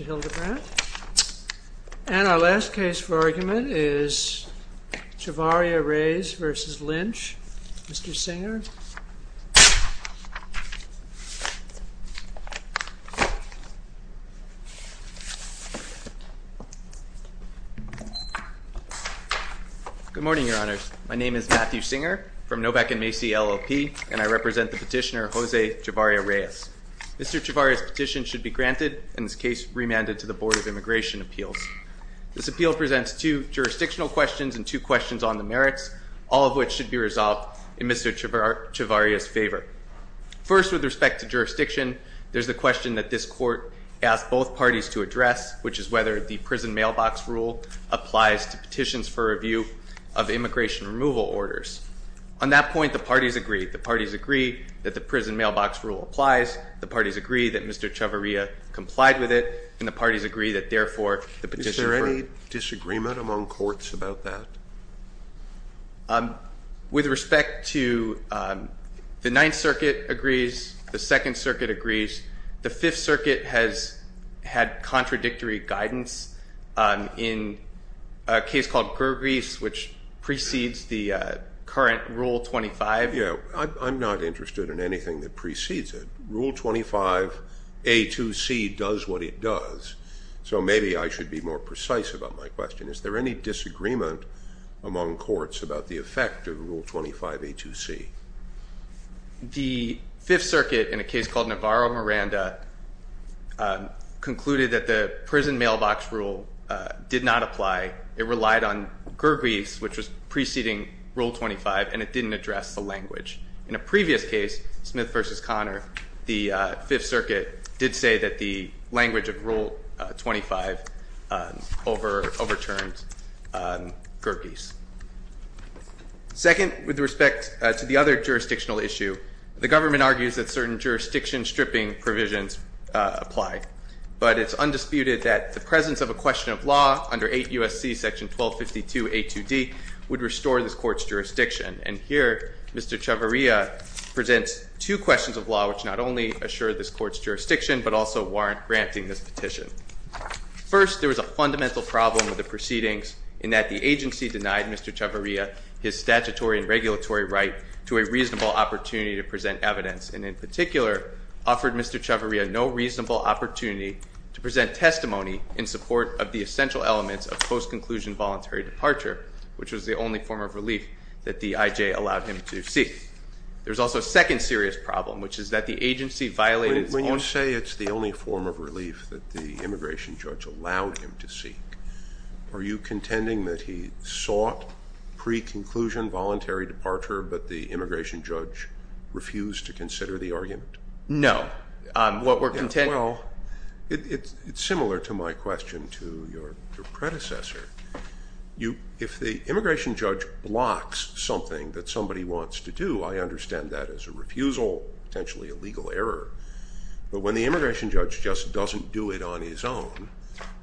And our last case for argument is Chavarria-Reyes v. Lynch. Mr. Singer. Good morning, Your Honors. My name is Matthew Singer from Novak & Macy, LLP, and I represent the petitioner, Jose Chavarria-Reyes. Mr. Chavarria's petition should be granted and this case remanded to the Board of Immigration Appeals. This appeal presents two jurisdictional questions and two questions on the merits, all of which should be resolved in Mr. Chavarria's favor. First, with respect to jurisdiction, there's the question that this Court asked both parties to address, which is whether the prison mailbox rule applies to petitions for review of immigration removal orders. On that point, the parties agree. The parties agree that the prison mailbox rule applies, the parties agree that Mr. Chavarria complied with it, and the parties agree that, therefore, the petition- Is there any disagreement among courts about that? With respect to the Ninth Circuit agrees, the Second Circuit agrees, the Fifth Circuit has had contradictory guidance in a case called Gergreis, which precedes the current Rule 25. Yeah, I'm not interested in anything that precedes it. Rule 25, A2C, does what it does. So maybe I should be more precise about my question. Is there any disagreement among courts about the effect of Rule 25, A2C? The Fifth Circuit, in a case called Navarro-Miranda, concluded that the prison mailbox rule did not apply. It relied on Gergreis, which was preceding Rule 25, and it didn't address the language. In a previous case, Smith v. Connor, the Fifth Circuit did say that the language of Rule 25 overturned Gergreis. Second, with respect to the other jurisdictional issue, the government argues that certain jurisdiction stripping provisions apply. But it's undisputed that the presence of a question of law under 8 U.S.C. section 1252, A2D, would restore this court's jurisdiction. And here, Mr. Chavarria presents two questions of law which not only assure this court's jurisdiction, but also warrant granting this petition. First, there was a fundamental problem with the proceedings in that the agency denied Mr. Chavarria his statutory and regulatory right to a reasonable opportunity to present evidence, and in particular, offered Mr. Chavarria no reasonable opportunity to present testimony in support of the essential elements of post-conclusion voluntary departure, which was the only form of relief that the IJ allowed him to seek. There's also a second serious problem, which is that the agency violated its own- That the immigration judge allowed him to seek. Are you contending that he sought pre-conclusion voluntary departure, but the immigration judge refused to consider the argument? No. What we're contending- Well, it's similar to my question to your predecessor. If the immigration judge blocks something that somebody wants to do, I understand that as a refusal, potentially a legal error. But when the immigration judge just doesn't do it on his own,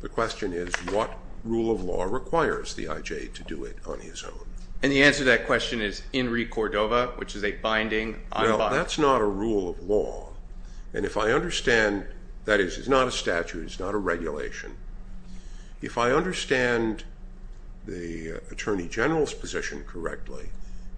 the question is, what rule of law requires the IJ to do it on his own? And the answer to that question is INRI Cordova, which is a binding- No, that's not a rule of law. And if I understand- that is, it's not a statute, it's not a regulation. If I understand the Attorney General's position correctly,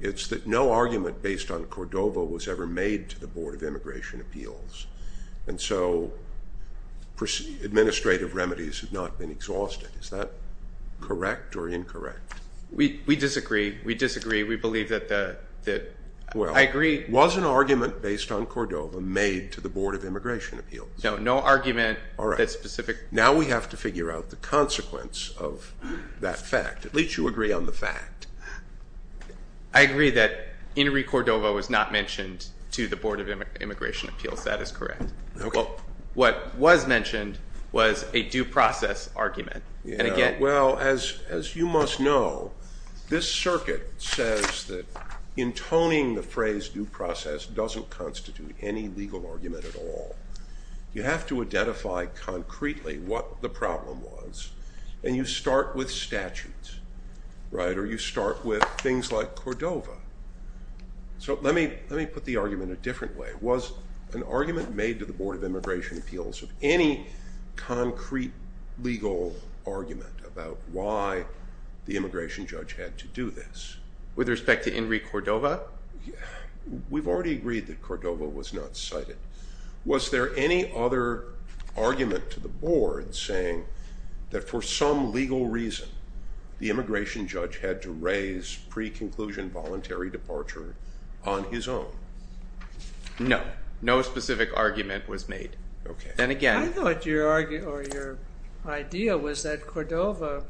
it's that no argument based on Cordova was ever made to the Board of Immigration Appeals. And so administrative remedies have not been exhausted. Is that correct or incorrect? We disagree. We disagree. We believe that the- I agree- Well, was an argument based on Cordova made to the Board of Immigration Appeals? No, no argument that specific- Now we have to figure out the consequence of that fact. At least you agree on the fact. I agree that INRI Cordova was not mentioned to the Board of Immigration Appeals. That is correct. Well, what was mentioned was a due process argument. And again- Well, as you must know, this circuit says that intoning the phrase due process doesn't constitute any legal argument at all. You have to identify concretely what the problem was, and you start with statutes, right, or you start with things like Cordova. So let me put the argument a different way. Was an argument made to the Board of Immigration Appeals of any concrete legal argument about why the immigration judge had to do this? With respect to INRI Cordova? We've already agreed that Cordova was not cited. Was there any other argument to the Board saying that for some legal reason the immigration judge had to raise pre-conclusion voluntary departure on his own? No. No specific argument was made. Then again- I thought your idea was that Cordova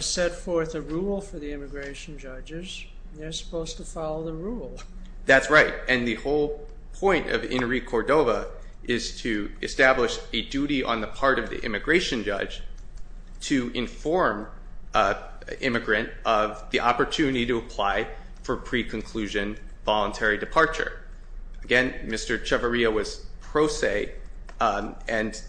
set forth a rule for the immigration judges. They're supposed to follow the rule. That's right. And the whole point of INRI Cordova is to establish a duty on the part of the immigration judge to inform an immigrant of the opportunity to apply for pre-conclusion voluntary departure. Again, Mr. Chavarria was pro se, and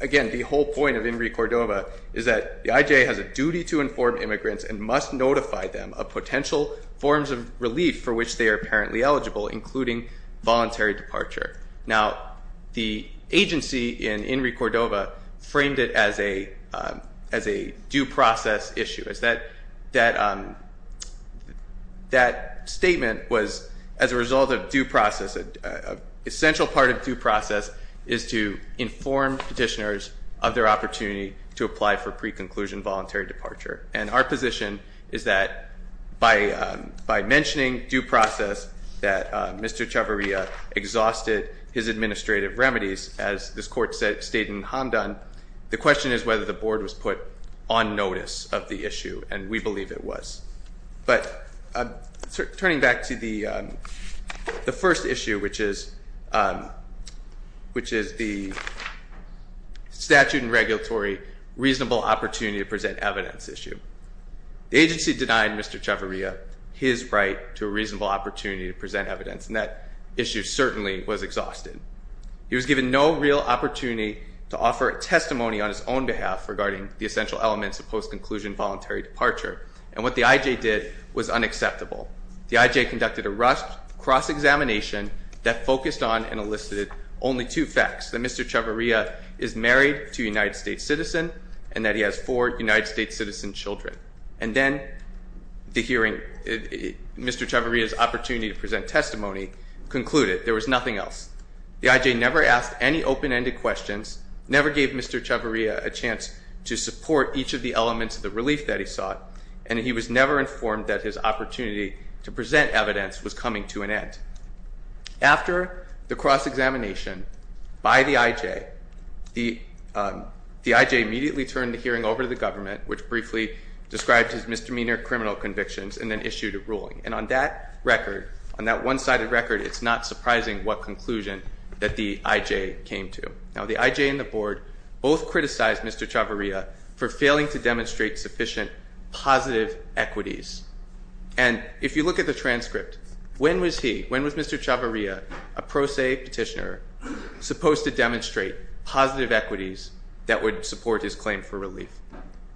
again, the whole point of INRI Cordova is that the IJA has a duty to inform immigrants and must notify them of potential forms of relief for which they are apparently eligible, including voluntary departure. Now, the agency in INRI Cordova framed it as a due process issue. That statement was as a result of due process. An essential part of due process is to inform petitioners of their opportunity to apply for pre-conclusion voluntary departure. And our position is that by mentioning due process, that Mr. Chavarria exhausted his administrative remedies as this court stated in Hamdan. The question is whether the board was put on notice of the issue, and we believe it was. But turning back to the first issue, which is the statute and regulatory reasonable opportunity to present evidence issue. The agency denied Mr. Chavarria his right to a reasonable opportunity to present evidence, and that issue certainly was exhausted. He was given no real opportunity to offer testimony on his own behalf regarding the essential elements of post-conclusion voluntary departure. And what the IJA did was unacceptable. The IJA conducted a cross-examination that focused on and elicited only two facts. That Mr. Chavarria is married to a United States citizen, and that he has four United States citizen children. And then the hearing, Mr. Chavarria's opportunity to present testimony concluded. There was nothing else. The IJA never asked any open-ended questions, never gave Mr. Chavarria a chance to support each of the elements of the relief that he sought. And he was never informed that his opportunity to present evidence was coming to an end. After the cross-examination by the IJA, the IJA immediately turned the hearing over to the government, which briefly described his misdemeanor criminal convictions and then issued a ruling. And on that record, on that one-sided record, it's not surprising what conclusion that the IJA came to. Now, the IJA and the board both criticized Mr. Chavarria for failing to demonstrate sufficient positive equities. And if you look at the transcript, when was he, when was Mr. Chavarria, a pro se petitioner, supposed to demonstrate positive equities that would support his claim for relief?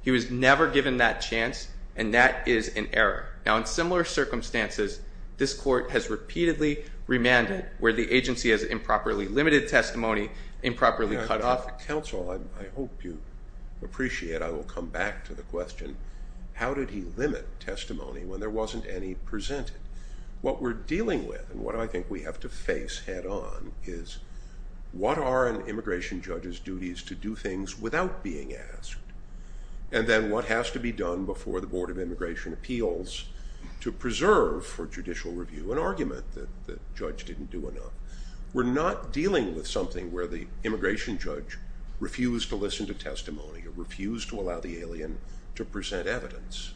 He was never given that chance, and that is an error. Now, in similar circumstances, this court has repeatedly remanded where the agency has improperly limited testimony, improperly cut off. Counsel, I hope you appreciate, I will come back to the question, how did he limit testimony when there wasn't any presented? What we're dealing with and what I think we have to face head on is what are an immigration judge's duties to do things without being asked? And then what has to be done before the Board of Immigration Appeals to preserve for judicial review an argument that the judge didn't do enough? We're not dealing with something where the immigration judge refused to listen to testimony or refused to allow the alien to present evidence.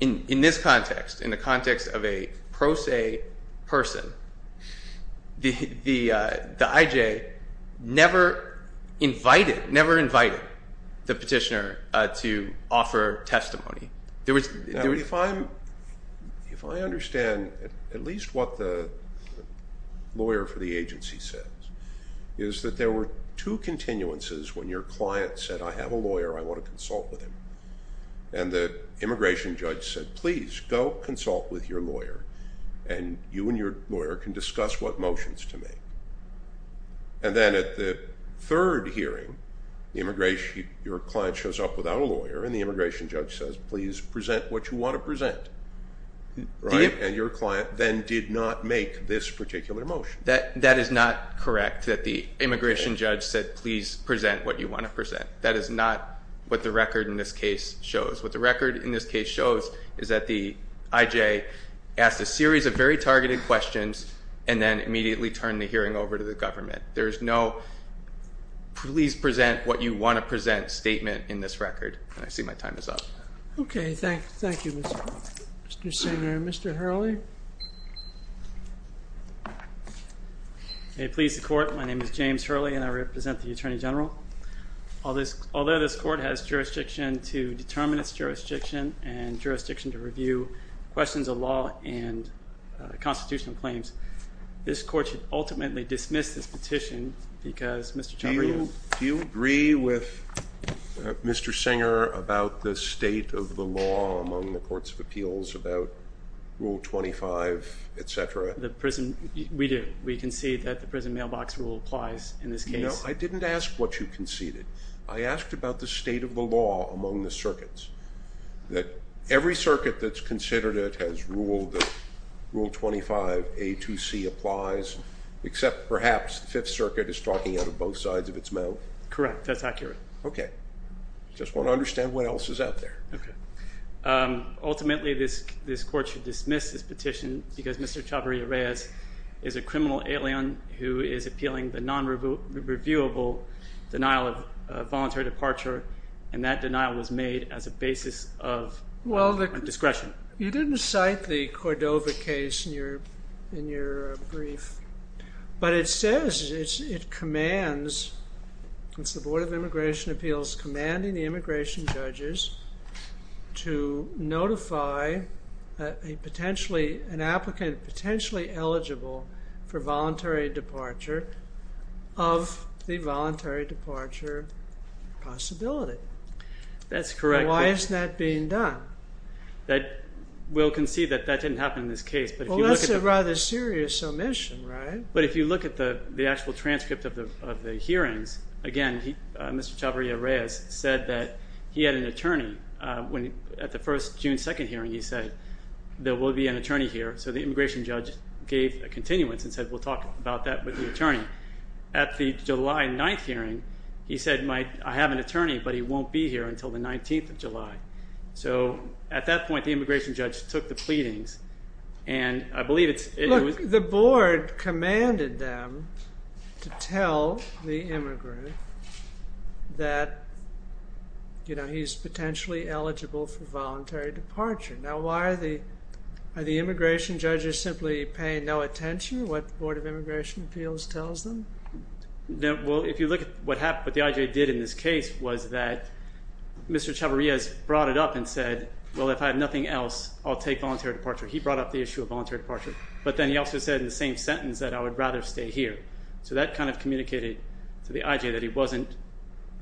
In this context, in the context of a pro se person, the IJA never invited, never invited the petitioner to offer testimony. If I understand at least what the lawyer for the agency says, is that there were two continuances when your client said, I have a lawyer, I want to consult with him. And the immigration judge said, please, go consult with your lawyer and you and your lawyer can discuss what motions to make. And then at the third hearing, your client shows up without a lawyer and the immigration judge says, please present what you want to present. And your client then did not make this particular motion. That is not correct that the immigration judge said, please present what you want to present. That is not what the record in this case shows. What the record in this case shows is that the IJA asked a series of very targeted questions and then immediately turned the hearing over to the government. There is no, please present what you want to present statement in this record. And I see my time is up. Okay, thank you, Mr. Singer. Mr. Hurley? May it please the court, my name is James Hurley and I represent the Attorney General. Although this court has jurisdiction to determine its jurisdiction and jurisdiction to review questions of law and constitutional claims, this court should ultimately dismiss this petition because Mr. Chalmers Do you agree with Mr. Singer about the state of the law among the courts of appeals about Rule 25, etc.? The prison, we do. We concede that the prison mailbox rule applies in this case. No, I didn't ask what you conceded. I asked about the state of the law among the circuits. That every circuit that's considered it has ruled that Rule 25, A2C applies, except perhaps the Fifth Circuit is talking out of both sides of its mouth. Correct, that's accurate. Okay. I just want to understand what else is out there. Ultimately, this court should dismiss this petition because Mr. Chavarria-Reyes is a criminal alien who is appealing the non-reviewable denial of voluntary departure. And that denial was made as a basis of discretion. You didn't cite the Cordova case in your brief. But it says it commands, it's the Board of Immigration Appeals commanding the immigration judges to notify an applicant potentially eligible for voluntary departure of the voluntary departure possibility. That's correct. Why isn't that being done? We'll concede that that didn't happen in this case. Well, that's a rather serious omission, right? But if you look at the actual transcript of the hearings, again, Mr. Chavarria-Reyes said that he had an attorney. At the first June 2nd hearing, he said, there will be an attorney here. So the immigration judge gave a continuance and said, we'll talk about that with the attorney. At the July 9th hearing, he said, I have an attorney, but he won't be here until the 19th of July. So at that point, the immigration judge took the pleadings. And I believe it's- Look, the board commanded them to tell the immigrant that he's potentially eligible for voluntary departure. Now, why are the immigration judges simply paying no attention to what the Board of Immigration Appeals tells them? Well, if you look at what the IJ did in this case was that Mr. Chavarria-Reyes brought it up and said, well, if I have nothing else, I'll take voluntary departure. He brought up the issue of voluntary departure. But then he also said in the same sentence that I would rather stay here. So that kind of communicated to the IJ that he wasn't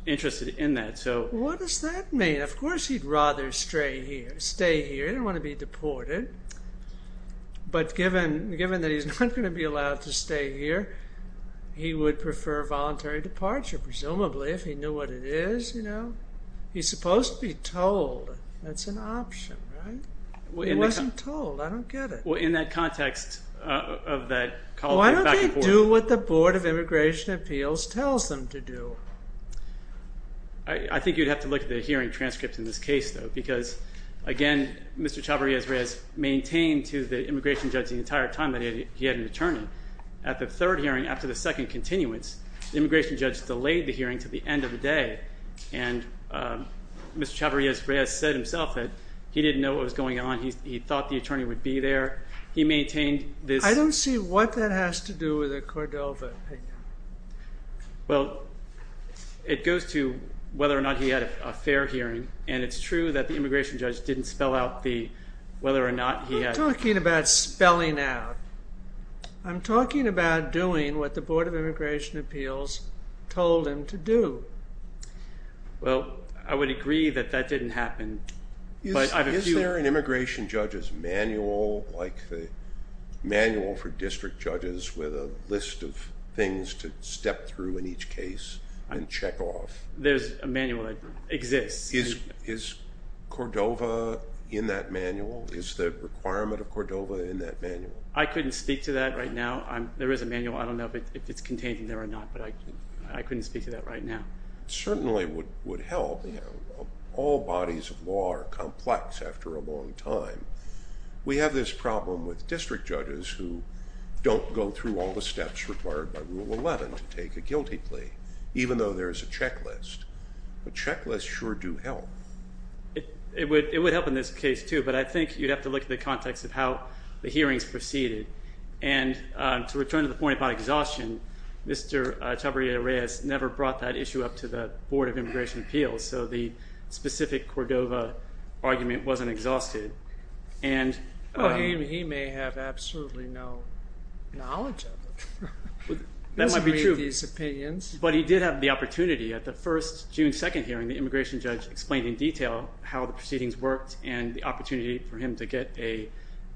interested in that. What does that mean? Of course, he'd rather stay here. He didn't want to be deported. But given that he's not going to be allowed to stay here, he would prefer voluntary departure. Presumably, if he knew what it is, you know. He's supposed to be told. That's an option, right? He wasn't told. I don't get it. Well, in that context of that- Why don't they do what the Board of Immigration Appeals tells them to do? I think you'd have to look at the hearing transcripts in this case, though. Because, again, Mr. Chavarrias-Reyes maintained to the immigration judge the entire time that he had an attorney. At the third hearing, after the second continuance, the immigration judge delayed the hearing to the end of the day. And Mr. Chavarrias-Reyes said himself that he didn't know what was going on. He thought the attorney would be there. He maintained this- I don't see what that has to do with the Cordova opinion. Well, it goes to whether or not he had a fair hearing. And it's true that the immigration judge didn't spell out whether or not he had- I'm talking about spelling out. I'm talking about doing what the Board of Immigration Appeals told him to do. Well, I would agree that that didn't happen. Is there an immigration judge's manual, like the manual for district judges with a list of things to step through in each case and check off? There's a manual that exists. Is Cordova in that manual? Is the requirement of Cordova in that manual? I couldn't speak to that right now. There is a manual. I don't know if it's contained in there or not, but I couldn't speak to that right now. It certainly would help. All bodies of law are complex after a long time. We have this problem with district judges who don't go through all the steps required by Rule 11 to take a guilty plea, even though there is a checklist. A checklist sure do help. It would help in this case, too, but I think you'd have to look at the context of how the hearings proceeded. And to return to the point about exhaustion, Mr. Chabria-Reyes never brought that issue up to the Board of Immigration Appeals, so the specific Cordova argument wasn't exhausted. He may have absolutely no knowledge of it. That might be true. But he did have the opportunity. At the first June 2nd hearing, the immigration judge explained in detail how the proceedings worked and the opportunity for him to get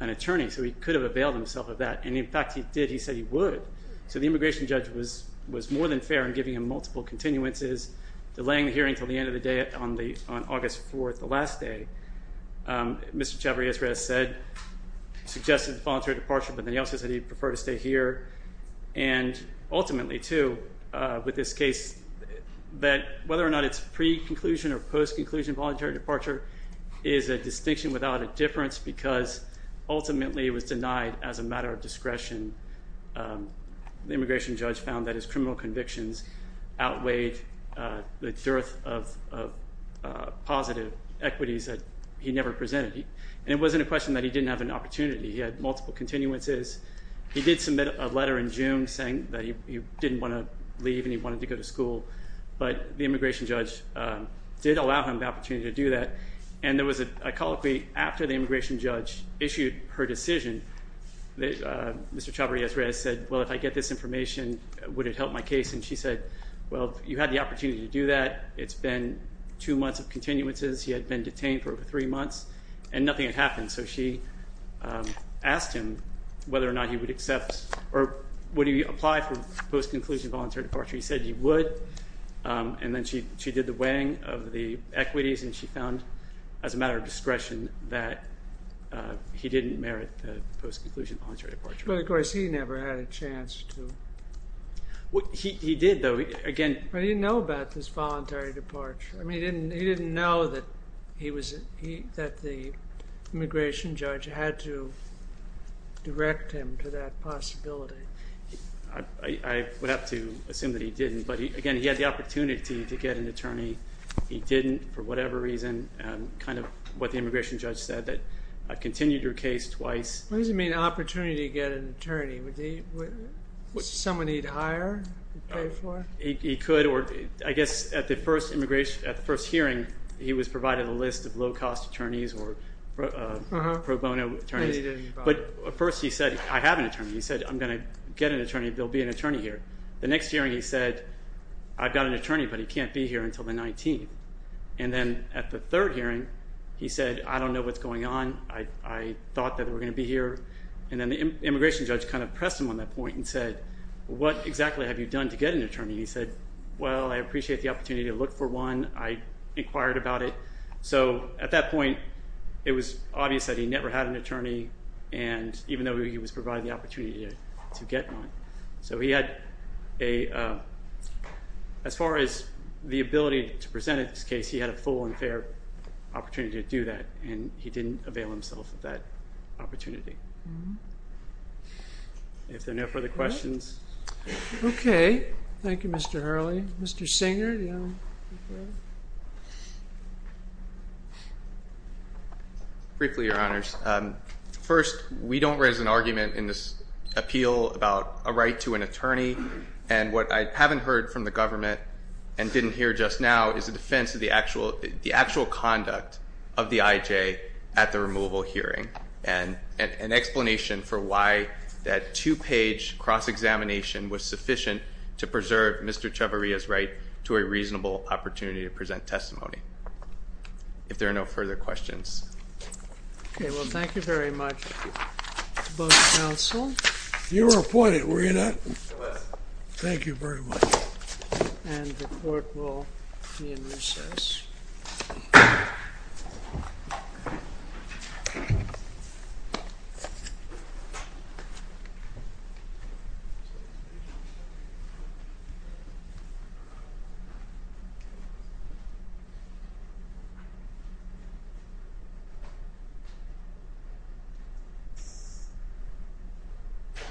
an attorney, so he could have availed himself of that. And, in fact, he did. He said he would. So the immigration judge was more than fair in giving him multiple continuances, delaying the hearing until the end of the day on August 4th, the last day. Mr. Chabria-Reyes said, suggested voluntary departure, but then he also said he'd prefer to stay here. And ultimately, too, with this case, that whether or not it's pre-conclusion or post-conclusion voluntary departure is a distinction without a difference because ultimately it was denied as a matter of discretion. The immigration judge found that his criminal convictions outweighed the dearth of positive equities that he never presented. And it wasn't a question that he didn't have an opportunity. He had multiple continuances. He did submit a letter in June saying that he didn't want to leave and he wanted to go to school, but the immigration judge did allow him the opportunity to do that. And there was a colloquy after the immigration judge issued her decision that Mr. Chabria-Reyes said, well, if I get this information, would it help my case? And she said, well, you had the opportunity to do that. It's been two months of continuances. He had been detained for over three months and nothing had happened. So she asked him whether or not he would accept or would he apply for post-conclusion voluntary departure. He said he would. And then she did the weighing of the equities and she found as a matter of discretion that he didn't merit the post-conclusion voluntary departure. But, of course, he never had a chance to. He did, though. But he didn't know about this voluntary departure. I mean, he didn't know that the immigration judge had to direct him to that possibility. I would have to assume that he didn't. But, again, he had the opportunity to get an attorney. He didn't for whatever reason. Kind of what the immigration judge said, that I've continued your case twice. What does he mean opportunity to get an attorney? Would someone he'd hire pay for it? He could. I guess at the first hearing, he was provided a list of low-cost attorneys or pro bono attorneys. But at first he said, I have an attorney. He said, I'm going to get an attorney. There will be an attorney here. The next hearing he said, I've got an attorney, but he can't be here until the 19th. And then at the third hearing, he said, I don't know what's going on. I thought that they were going to be here. And then the immigration judge kind of pressed him on that point and said, what exactly have you done to get an attorney? He said, well, I appreciate the opportunity to look for one. I inquired about it. So at that point, it was obvious that he never had an attorney. And even though he was provided the opportunity to get one. So he had a, as far as the ability to present at this case, he had a full and fair opportunity to do that. And he didn't avail himself of that opportunity. If there are no further questions. Okay. Thank you, Mr. Hurley. Mr. Singer. Briefly, your honors. First, we don't raise an argument in this appeal about a right to an attorney. And what I haven't heard from the government and didn't hear just now is the defense of the actual conduct of the IJ at the removal hearing. And an explanation for why that two-page cross-examination was sufficient to preserve Mr. Chavarria's right to a reasonable opportunity to present testimony. If there are no further questions. Okay. Well, thank you very much, both counsel. You were appointed, were you not? I was. Thank you very much. And the court will be in recess.